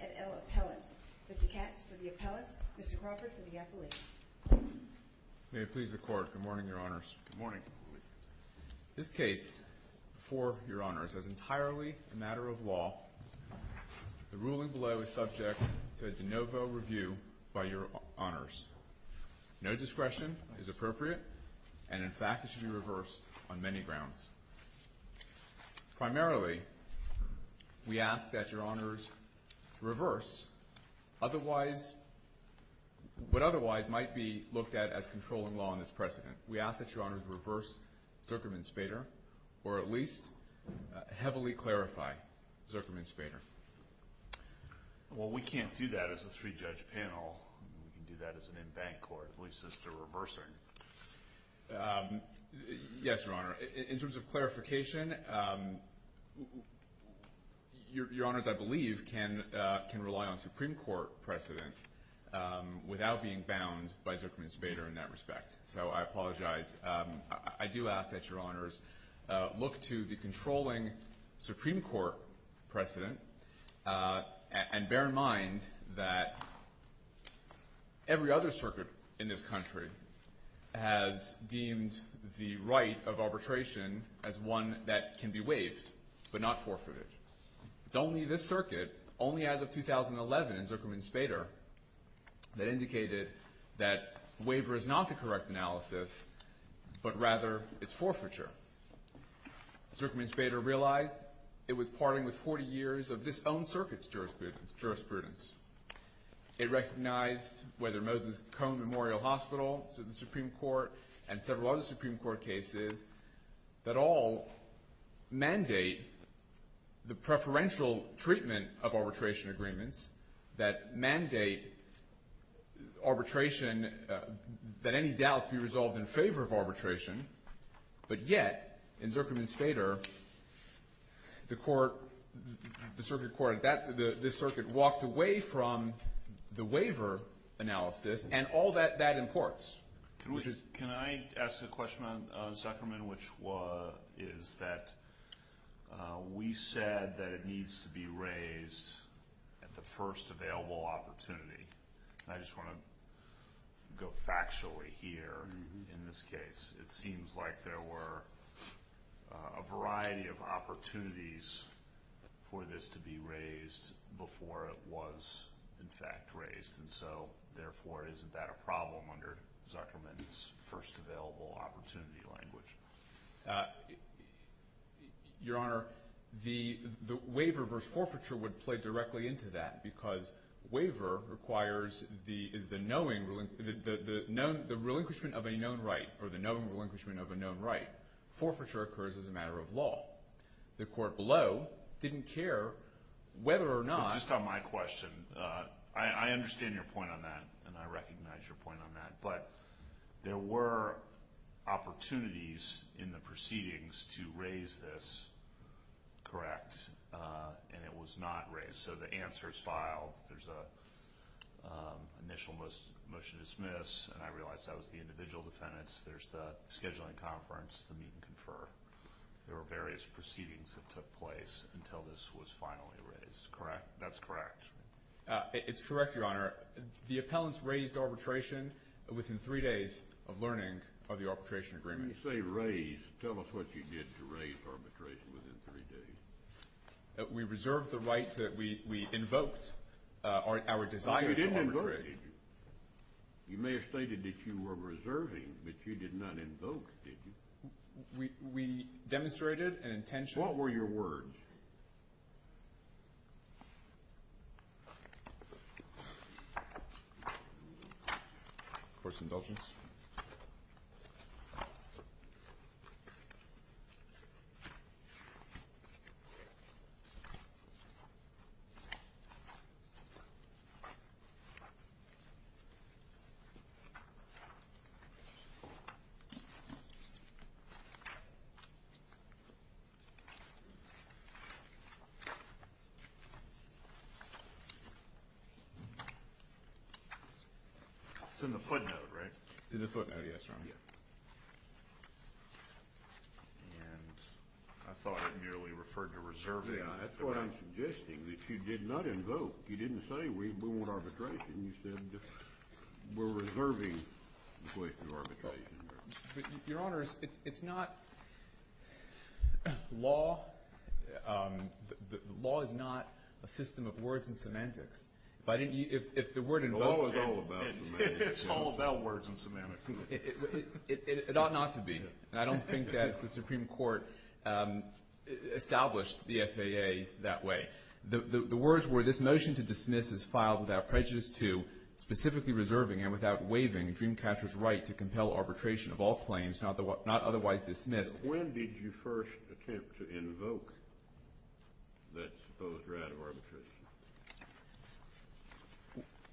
and L. Appellants. Mr. Katz for the Appellants, Mr. Crawford for the Appellant. May it please the Court. Good morning, Your Honors. Good morning. This case, for Your Honors, is entirely a matter of law. The ruling below is subject to a de novo review by Your Honors. No discretion is appropriate and, in fact, it should be reversed on many grounds. Primarily, we ask that Your Honors reverse otherwise, what otherwise might be looked at as controlling law in this precedent. We ask that Your Honors reverse Zuckerman-Spader or at least heavily clarify Zuckerman-Spader. Well, we can't do that as a three-judge panel. We can do that as an in-bank court, at least as to reversing. Yes, Your Honor. In terms of clarification, Your Honors, I believe, can rely on Supreme Court precedent without being bound by Zuckerman-Spader in that respect. So I apologize. I do ask that Your Honors look to the controlling Supreme Court precedent and bear in mind that every other circuit in this country has deemed the right of arbitration as one that can be waived but not forfeited. It's only this circuit, only as of 2011 in Zuckerman-Spader, that Zuckerman-Spader realized it was partying with 40 years of this own circuit's jurisprudence. It recognized whether Moses Cone Memorial Hospital, the Supreme Court, and several other Supreme Court cases that all mandate the preferential treatment of arbitration agreements, that mandate arbitration, that any doubts be resolved in favor of arbitration. But yet, in Zuckerman-Spader, the circuit walked away from the waiver analysis and all that imports. Can I ask a question on Zuckerman, which is that we said that it needs to be raised at the first available opportunity. I just want to go factually here in this case. It seems like there were a variety of opportunities for this to be raised before it was in fact raised. And so, therefore, isn't that a problem under Zuckerman's first available opportunity language? Your Honor, the waiver versus forfeiture would play directly into that because waiver requires the relinquishment of a known right or the known relinquishment of a known right. Forfeiture occurs as a matter of law. The court below didn't care whether or not... Just on my question, I understand your point on that and I recognize your point on that. But there were opportunities in the proceedings to raise this, correct, and it was not raised. So the answer is filed. There's an initial motion to dismiss, and I realize that was the individual defendants. There's the scheduling conference, the meet and confer. There were various proceedings that took place until this was finally raised, correct? That's correct? It's correct, Your Honor. The appellants raised arbitration within three days of learning of the arbitration agreement. When you say raised, tell us what you did to raise arbitration within three days. We reserved the rights that we invoked, our desire to arbitrate. You didn't invoke, did you? You may have stated that you were reserving, but you did not invoke, did you? We demonstrated an intention. What were your words? Court's indulgence. It's in the footnote, right? It's in the footnote, yes, Your Honor. And I thought it merely referred to reserving. That's what I'm suggesting. If you did not invoke, you didn't say we want arbitration. You said we're reserving the place of arbitration. Your Honor, it's not law. Law is not a system of words and semantics. If I didn't, if the word invoked. It's all about words and semantics. It ought not to be. And I don't think that the Supreme Court established the FAA that way. The words were, this motion to dismiss is filed without prejudice to specifically reserving and without waiving Dreamcatcher's right to compel arbitration of all claims not otherwise dismissed. When did you first attempt to invoke that supposed right of arbitration?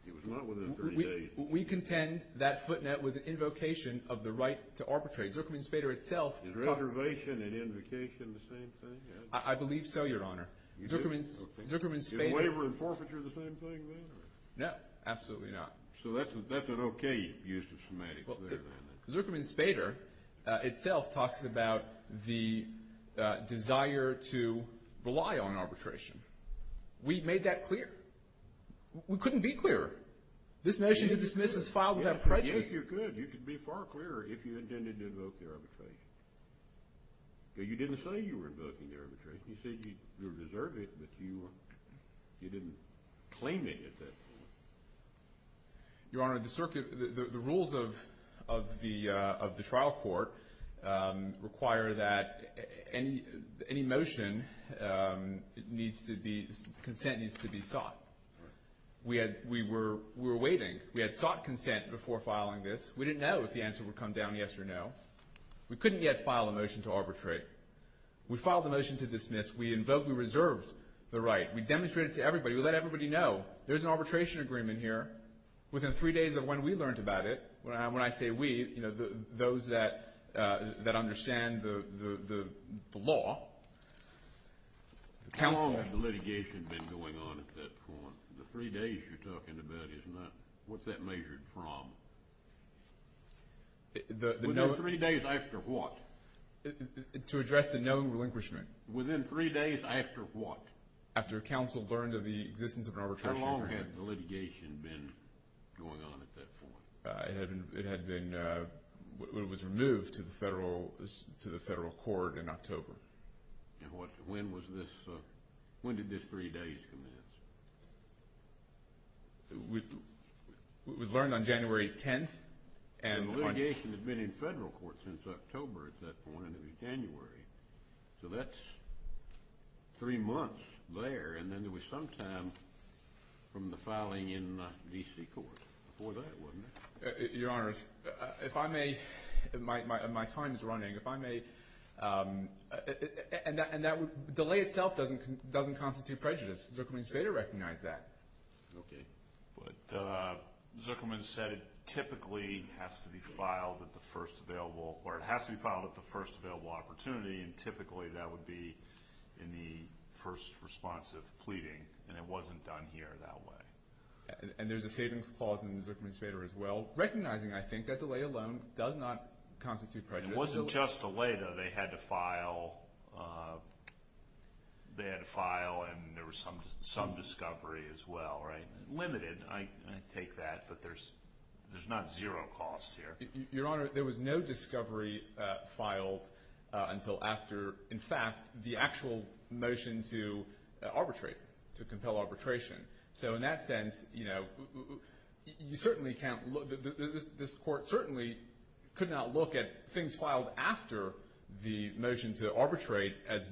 It was not within 30 days. We contend that footnote was an invocation of the right to arbitrate. Zuckerman-Spader itself talks about it. Is reservation and invocation the same thing? I believe so, Your Honor. Is waiver and forfeiture the same thing, then? No, absolutely not. So that's an okay use of semantics there, then. Zuckerman-Spader itself talks about the desire to rely on arbitration. We made that clear. We couldn't be clearer. This motion to dismiss is filed without prejudice. Yes, you could. You could be far clearer if you intended to invoke the arbitration. You didn't say you were invoking the arbitration. You said you deserved it, but you didn't claim it. Your Honor, the rules of the trial court require that any motion needs to be, consent needs to be sought. We were waiting. We had sought consent before filing this. We didn't know if the answer would come down yes or no. We couldn't yet file a motion to arbitrate. We filed the motion to dismiss. We invoked. We reserved the right. We demonstrated to everybody. We let everybody know. There's an arbitration agreement here. Within three days of when we learned about it, when I say we, you know, those that understand the law. How long has the litigation been going on at that point? The three days you're talking about, what's that measured from? Within three days after what? To address the known relinquishment. Within three days after what? After counsel learned of the existence of an arbitration agreement. How long had the litigation been going on at that point? It had been, it was removed to the federal court in October. And when was this, when did this three days commence? It was learned on January 10th. And the litigation had been in federal court since October at that point, in January. So that's three months there. And then there was some time from the filing in D.C. court before that, wasn't there? Your Honor, if I may, my time is running. If I may, and that delay itself doesn't constitute prejudice. Zuckerman and Spader recognized that. Okay. But Zuckerman said it typically has to be filed at the first available, or it has to be filed at the first available opportunity, and typically that would be in the first response of pleading. And it wasn't done here that way. And there's a savings clause in Zuckerman and Spader as well, recognizing, I think, that delay alone does not constitute prejudice. It wasn't just a delay, though. They had to file and there was some discovery as well, right? Limited, I take that. But there's not zero costs here. Your Honor, there was no discovery filed until after, in fact, the actual motion to arbitrate, to compel arbitration. So in that sense, you know, you certainly can't look at this court, certainly could not look at things filed after the motion to arbitrate as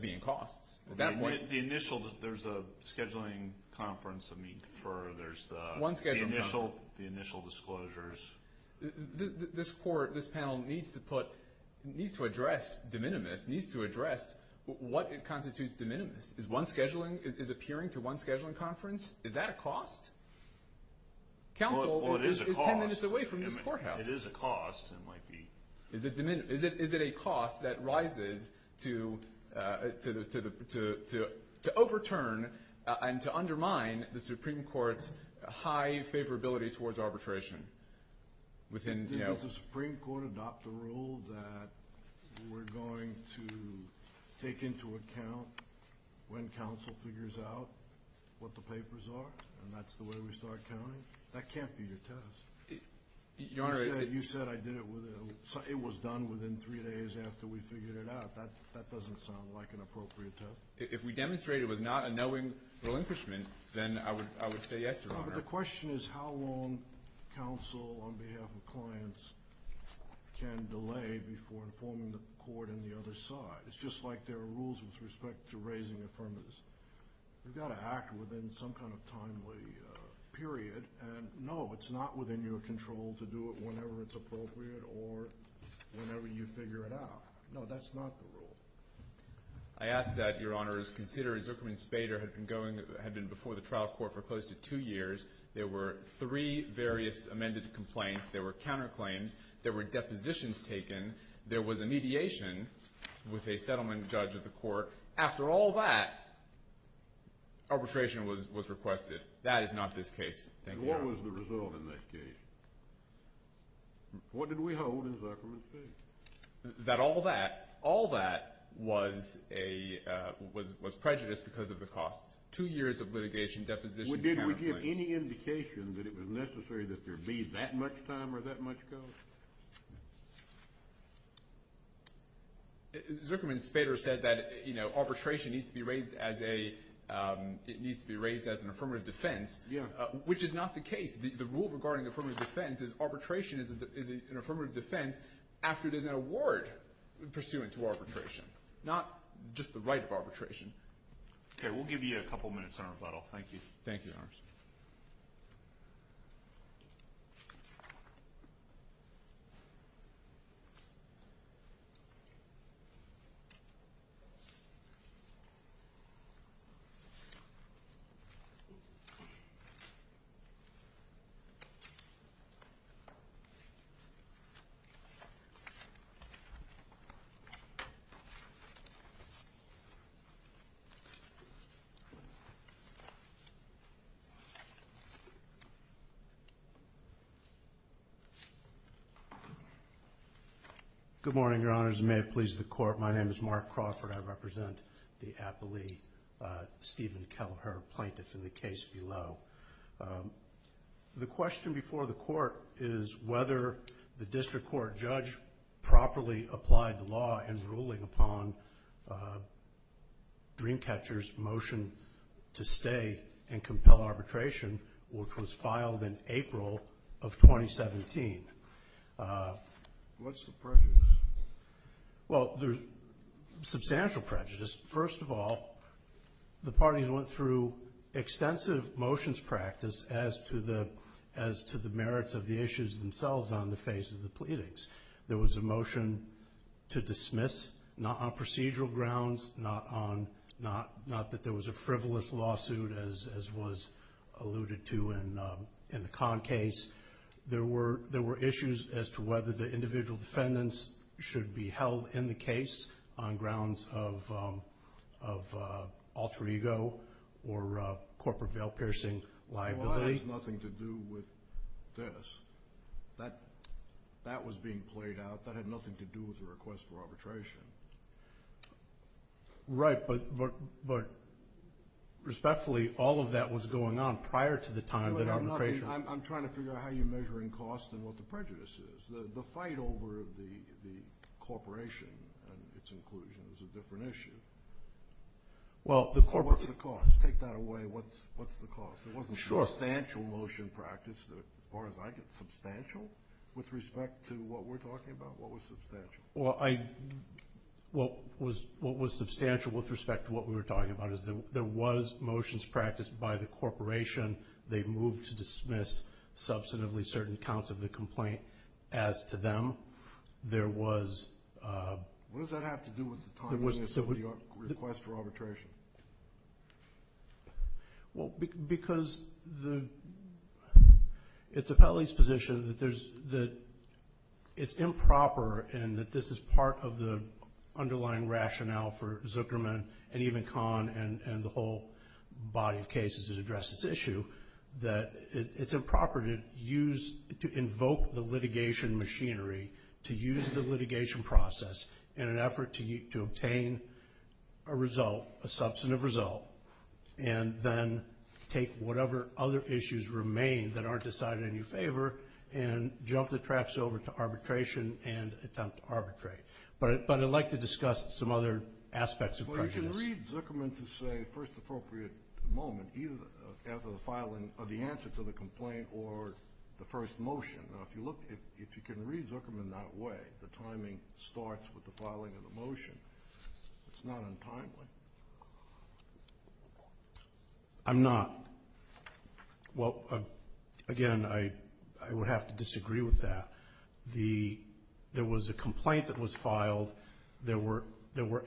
being costs. The initial, there's a scheduling conference to meet for, there's the initial disclosures. This court, this panel needs to put, needs to address de minimis, needs to address what constitutes de minimis. Is one scheduling, is appearing to one scheduling conference, is that a cost? Counsel is ten minutes away from this courthouse. It is a cost. Is it a cost that rises to overturn and to undermine the Supreme Court's high favorability towards arbitration? Does the Supreme Court adopt a rule that we're going to take into account when counsel figures out what the papers are and that's the way we start counting? That can't be your test. You said I did it, it was done within three days after we figured it out. That doesn't sound like an appropriate test. If we demonstrate it was not a knowing relinquishment, then I would say yes, Your Honor. But the question is how long counsel on behalf of clients can delay before informing the court on the other side. It's just like there are rules with respect to raising affirmatives. You've got to act within some kind of timely period. And no, it's not within your control to do it whenever it's appropriate or whenever you figure it out. No, that's not the rule. I ask that Your Honor consider Zuckerman Spader had been before the trial court for close to two years. There were three various amended complaints. There were counterclaims. There were depositions taken. There was a mediation with a settlement judge of the court. After all that, arbitration was requested. That is not this case. Thank you, Your Honor. And what was the result in that case? What did we hold in Zuckerman Spader? That all that was prejudice because of the costs. Two years of litigation, depositions, counterclaims. Did we give any indication that it was necessary that there be that much time or that much goes? Zuckerman Spader said that arbitration needs to be raised as an affirmative defense, which is not the case. The rule regarding affirmative defense is arbitration is an affirmative defense after there's an award pursuant to arbitration, not just the right of arbitration. Okay, we'll give you a couple minutes on rebuttal. Thank you, Your Honor. Good morning, Your Honors, and may it please the court. My name is Mark Crawford. I represent the appellee, Stephen Kelher, plaintiff in the case below. The question before the court is whether the district court judge properly applied the law in ruling upon Dreamcatcher's motion to stay and compel arbitration, which was filed in April of 2017. What's the prejudice? Well, there's substantial prejudice. First of all, the parties went through extensive motions practice as to the merits of the issues themselves on the face of the pleadings. There was a motion to dismiss, not on procedural grounds, not that there was a frivolous lawsuit as was alluded to in the Conn case. There were issues as to whether the individual defendants should be held in the case on grounds of alter ego or corporate veil-piercing liability. Well, that has nothing to do with this. That was being played out. That had nothing to do with the request for arbitration. Right, but respectfully, all of that was going on prior to the time that arbitration… I'm trying to figure out how you're measuring cost and what the prejudice is. The fight over the corporation and its inclusion is a different issue. Well, the corporate… What's the cost? Take that away. What's the cost? It wasn't substantial motion practice, as far as I get. Substantial with respect to what we're talking about? What was substantial? Well, what was substantial with respect to what we were talking about is that there was motions practiced by the corporation. They moved to dismiss substantively certain counts of the complaint. As to them, there was… What does that have to do with the timing of the request for arbitration? Well, because it's Appelli's position that it's improper and that this is part of the underlying rationale for Zuckerman and even Kahn and the whole body of cases that address this issue, that it's improper to invoke the litigation machinery to use the litigation process in an effort to obtain a result, a substantive result, and then take whatever other issues remain that aren't decided in your favor and jump the traps over to arbitration and attempt to arbitrate. But I'd like to discuss some other aspects of prejudice. Well, you can read Zuckerman to say first appropriate moment, either after the filing of the answer to the complaint or the first motion. Now, if you look, if you can read Zuckerman that way, the timing starts with the filing of the motion. It's not untimely. I'm not. Well, again, I would have to disagree with that. There was a complaint that was filed. There were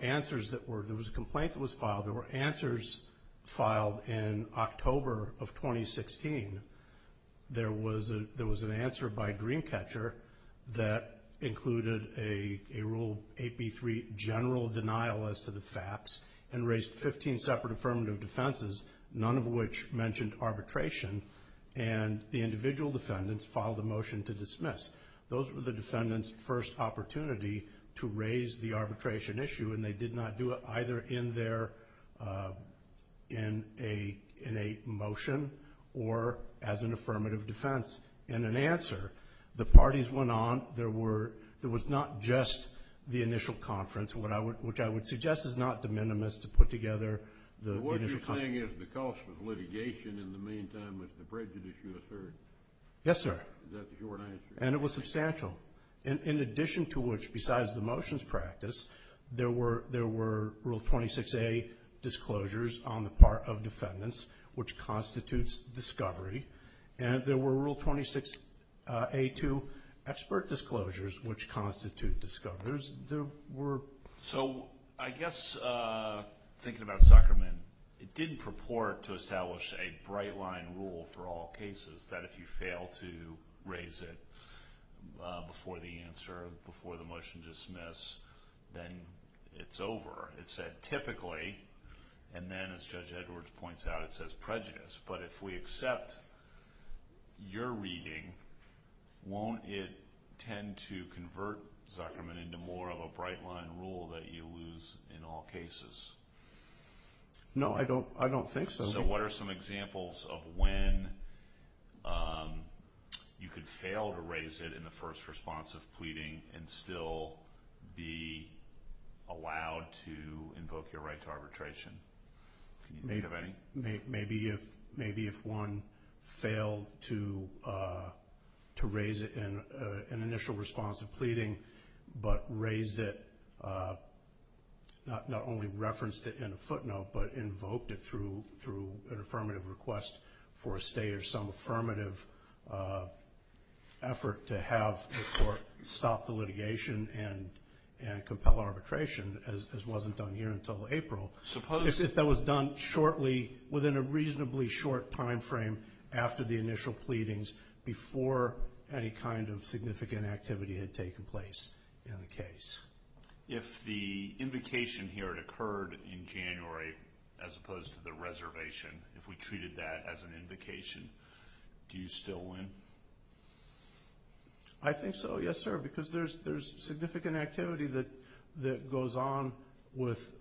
answers that were… There was a complaint that was filed. There were answers filed in October of 2016. There was an answer by Dreamcatcher that included a Rule 8B3 general denial as to the facts and raised 15 separate affirmative defenses, none of which mentioned arbitration, and the individual defendants filed a motion to dismiss. Those were the defendants' first opportunity to raise the arbitration issue, and they did not do it either in a motion or as an affirmative defense. In an answer, the parties went on. There was not just the initial conference, which I would suggest is not de minimis to put together the initial conference. So what you're saying is the cost of litigation in the meantime was the prejudice you asserted. Yes, sir. Is that the short answer? And it was substantial. In addition to which, besides the motions practice, there were Rule 26A disclosures on the part of defendants, which constitutes discovery, and there were Rule 26A2 expert disclosures, which constitute discoveries. So I guess thinking about Zuckerman, it didn't purport to establish a bright-line rule for all cases that if you fail to raise it before the answer, before the motion to dismiss, then it's over. It said typically, and then as Judge Edwards points out, it says prejudice. But if we accept your reading, won't it tend to convert Zuckerman into more of a bright-line rule that you lose in all cases? No, I don't think so. So what are some examples of when you could fail to raise it in the first response of pleading and still be allowed to invoke your right to arbitration? Can you think of any? Maybe if one failed to raise it in an initial response of pleading but raised it, not only referenced it in a footnote but invoked it through an affirmative request for a stay or some affirmative effort to have the court stop the litigation and compel arbitration, as wasn't done here until April. If that was done shortly, within a reasonably short time frame after the initial pleadings, before any kind of significant activity had taken place in the case. If the invocation here had occurred in January as opposed to the reservation, if we treated that as an invocation, do you still win? I think so, yes, sir, because there's significant activity that goes on with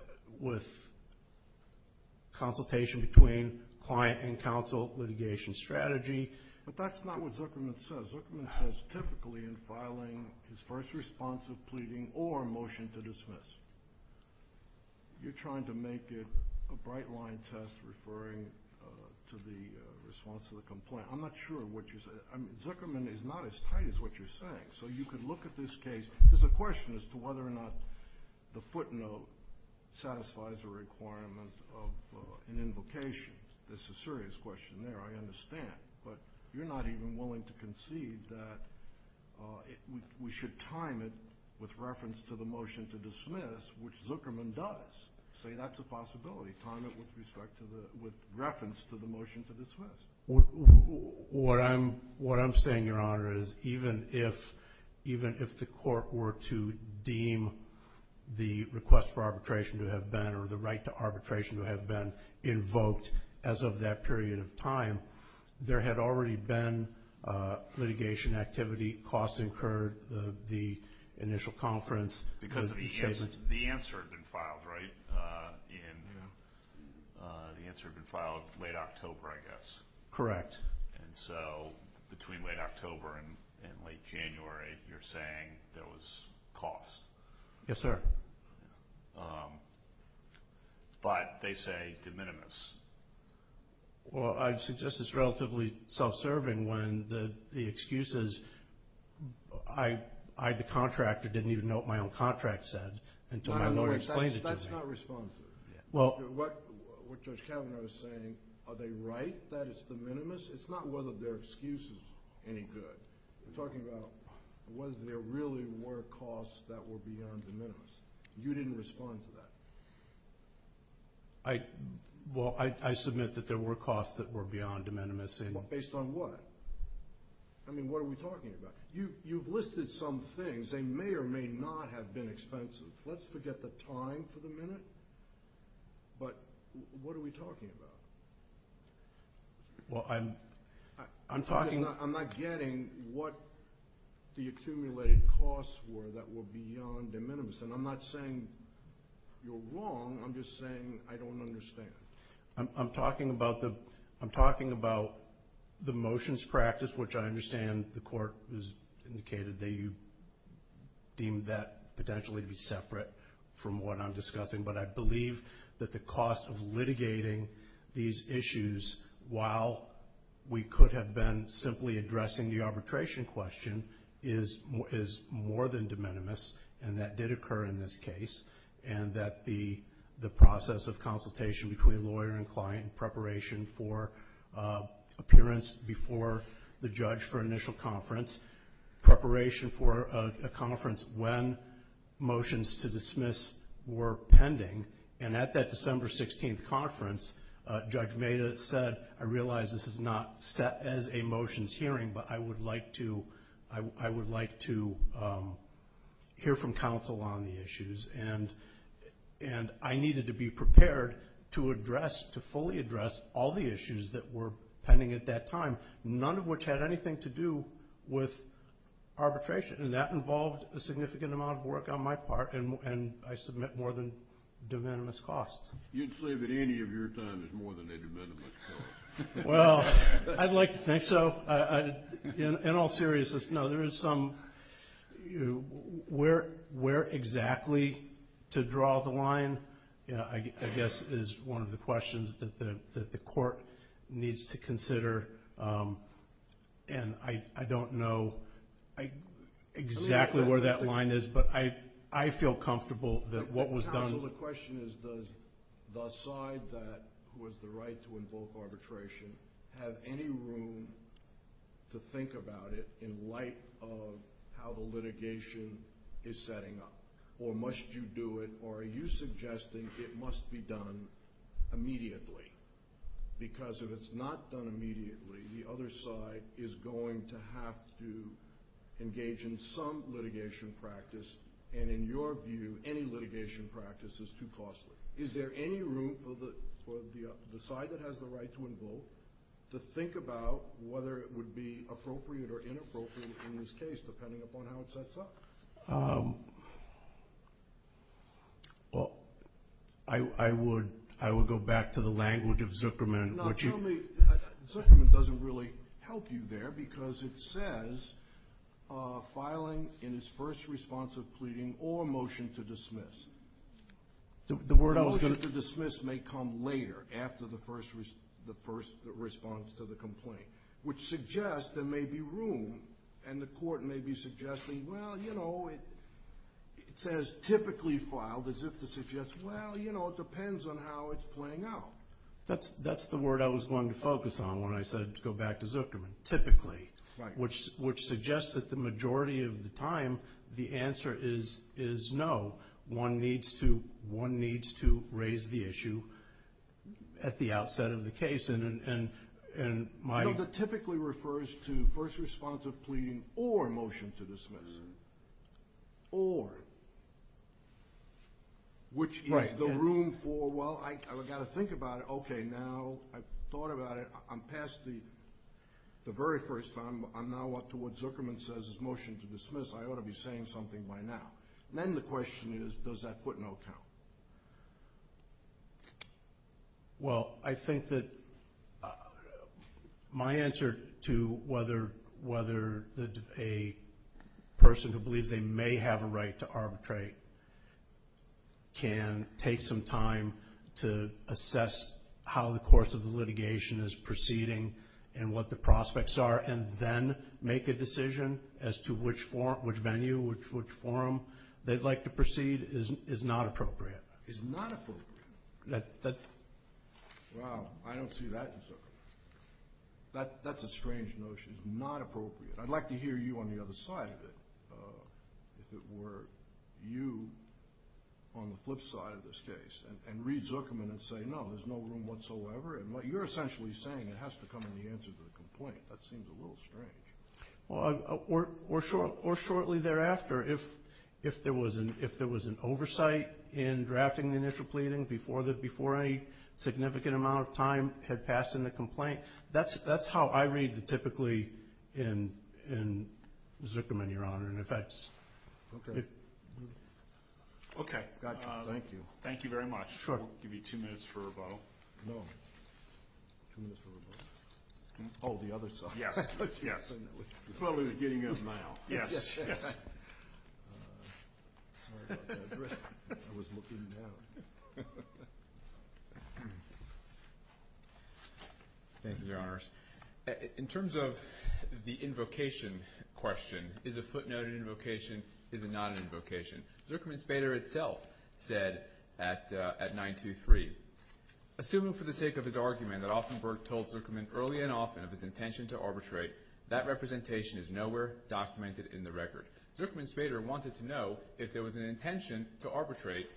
consultation between client and counsel litigation strategy. But that's not what Zuckerman says. Zuckerman says typically in filing his first response of pleading or motion to dismiss, you're trying to make it a bright-line test referring to the response to the complaint. I'm not sure what you're saying. Zuckerman is not as tight as what you're saying. So you could look at this case. There's a question as to whether or not the footnote satisfies a requirement of an invocation. That's a serious question there, I understand. But you're not even willing to concede that we should time it with reference to the motion to dismiss, which Zuckerman does say that's a possibility, time it with reference to the motion to dismiss. What I'm saying, Your Honor, is even if the court were to deem the request for arbitration to have been or the right to arbitration to have been invoked as of that period of time, there had already been litigation activity, costs incurred, the initial conference. Because the answer had been filed, right? The answer had been filed late October, I guess. Correct. And so between late October and late January, you're saying there was cost. Yes, sir. But they say de minimis. Well, I suggest it's relatively self-serving when the excuse is I, the contractor, didn't even know what my own contract said until my lawyer explained it to me. That's not responsive to what Judge Kavanaugh is saying. Are they right that it's de minimis? It's not whether their excuse is any good. We're talking about was there really were costs that were beyond de minimis. You didn't respond to that. Well, I submit that there were costs that were beyond de minimis. Based on what? I mean, what are we talking about? You've listed some things. They may or may not have been expensive. Let's forget the time for the minute. But what are we talking about? Well, I'm talking to you. I'm not getting what the accumulated costs were that were beyond de minimis. And I'm not saying you're wrong. I'm just saying I don't understand. I'm talking about the motions practice, which I understand the court has indicated that you deem that potentially to be separate from what I'm discussing. But I believe that the cost of litigating these issues, while we could have been simply addressing the arbitration question, is more than de minimis. And that did occur in this case. And that the process of consultation between lawyer and client, preparation for appearance before the judge for initial conference, preparation for a conference when motions to dismiss were pending. And at that December 16th conference, Judge Mata said, I realize this is not set as a motions hearing, but I would like to hear from counsel on the issues. And I needed to be prepared to address, to fully address all the issues that were pending at that time, none of which had anything to do with arbitration. And that involved a significant amount of work on my part, and I submit more than de minimis costs. You'd say that any of your time is more than de minimis costs. Well, I'd like to think so. In all seriousness, no, there is some. Where exactly to draw the line, I guess, is one of the questions that the court needs to consider. And I don't know exactly where that line is, but I feel comfortable that what was done. So the question is, does the side that was the right to invoke arbitration have any room to think about it in light of how the litigation is setting up? Or must you do it, or are you suggesting it must be done immediately? Because if it's not done immediately, the other side is going to have to engage in some litigation practice, and in your view, any litigation practice is too costly. Is there any room for the side that has the right to invoke to think about whether it would be appropriate or inappropriate in this case, depending upon how it sets up? I would go back to the language of Zuckerman. Now tell me, Zuckerman doesn't really help you there, because it says filing in its first response of pleading or motion to dismiss. The motion to dismiss may come later, after the first response to the complaint, which suggests there may be room, and the court may be suggesting, well, you know, it says typically filed, as if to suggest, well, you know, it depends on how it's playing out. That's the word I was going to focus on when I said go back to Zuckerman, typically, which suggests that the majority of the time the answer is no. One needs to raise the issue at the outset of the case. No, the typically refers to first response of pleading or motion to dismiss, or, which is the room for, well, I've got to think about it. Okay, now I've thought about it. I'm past the very first time. I'm now up to what Zuckerman says is motion to dismiss. I ought to be saying something by now. Then the question is, does that footnote count? Well, I think that my answer to whether a person who believes they may have a right to argue or arbitrate can take some time to assess how the course of the litigation is proceeding and what the prospects are and then make a decision as to which venue, which forum they'd like to proceed is not appropriate. Is not appropriate? Well, I don't see that in Zuckerman. That's a strange notion, not appropriate. I'd like to hear you on the other side of it, if it were you on the flip side of this case, and read Zuckerman and say, no, there's no room whatsoever. You're essentially saying it has to come in the answer to the complaint. That seems a little strange. Well, or shortly thereafter, if there was an oversight in drafting the initial pleading before a significant amount of time had passed in the complaint, that's how I read typically in Zuckerman, Your Honor, in effect. Okay. Okay. Thank you. Thank you very much. Sure. I'll give you two minutes for rebuttal. No. Two minutes for rebuttal. Oh, the other side. Yes. Yes. We're getting it now. Yes. Yes. Sorry about that, Rick. I was looking down. Thank you, Your Honors. In terms of the invocation question, is a footnote an invocation, is it not an invocation? Zuckerman Spader itself said at 923, Assuming for the sake of his argument that Offenburg told Zuckerman early and often of his intention to arbitrate, that representation is nowhere documented in the record. Zuckerman Spader wanted to know if there was an intention to arbitrate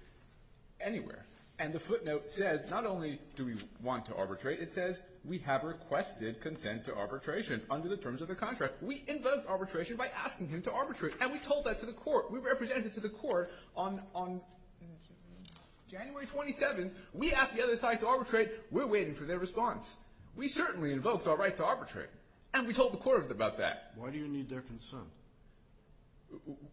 anywhere. And the footnote says not only do we want to arbitrate, it says we have requested consent to arbitration under the terms of the contract. We invoked arbitration by asking him to arbitrate, and we told that to the court. We represented to the court on January 27th. We asked the other side to arbitrate. We're waiting for their response. We certainly invoked our right to arbitrate, and we told the court about that. Why do you need their consent?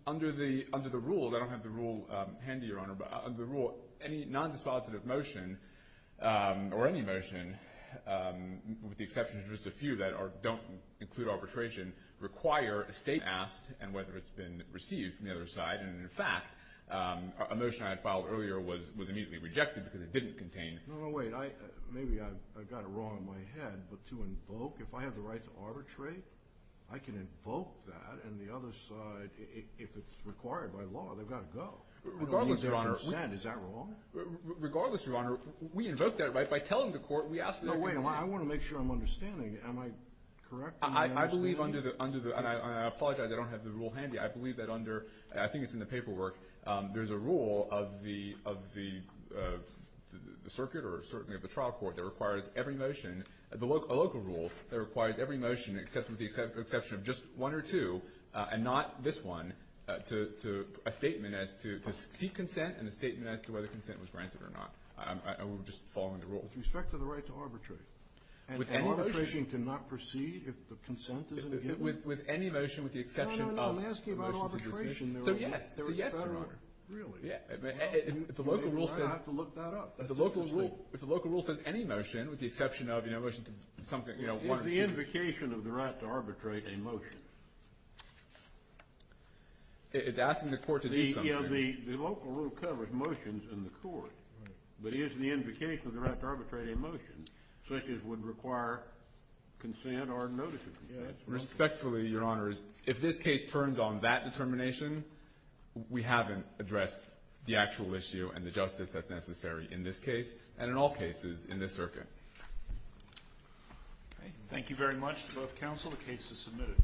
Under the rules, I don't have the rule handy, Your Honor, but under the rule any nondispositive motion or any motion, with the exception of just a few that don't include arbitration, require a statement asked and whether it's been received from the other side. And, in fact, a motion I had filed earlier was immediately rejected because it didn't contain it. No, no, wait. Maybe I've got it wrong in my head, but to invoke, if I have the right to arbitrate, I can invoke that, and the other side, if it's required by law, they've got to go. Regardless, Your Honor. I don't need their consent. Is that wrong? Regardless, Your Honor, we invoked that right by telling the court. We asked them to consent. No, wait. I want to make sure I'm understanding. Am I correct in my understanding? I believe under the – and I apologize. I don't have the rule handy. I believe that under – I think it's in the paperwork. There's a rule of the circuit or certainly of the trial court that requires every motion, a local rule that requires every motion except with the exception of just one or two and not this one to a statement as to seek consent and a statement as to whether consent was granted or not. And we're just following the rule. With respect to the right to arbitrate. With any motion. And arbitration cannot proceed if the consent isn't given? No, no, no. Really? Yeah. If the local rule says – I have to look that up. That's interesting. If the local rule says any motion with the exception of, you know, a motion to something, you know, one or two. Is the invocation of the right to arbitrate a motion? It's asking the court to do something. Yeah, the local rule covers motions in the court. But is the invocation of the right to arbitrate a motion such as would require consent or notice of consent? Respectfully, Your Honor, if this case turns on that determination, we haven't addressed the actual issue and the justice that's necessary in this case and in all cases in this circuit. Okay. Thank you very much to both counsel. The case is submitted.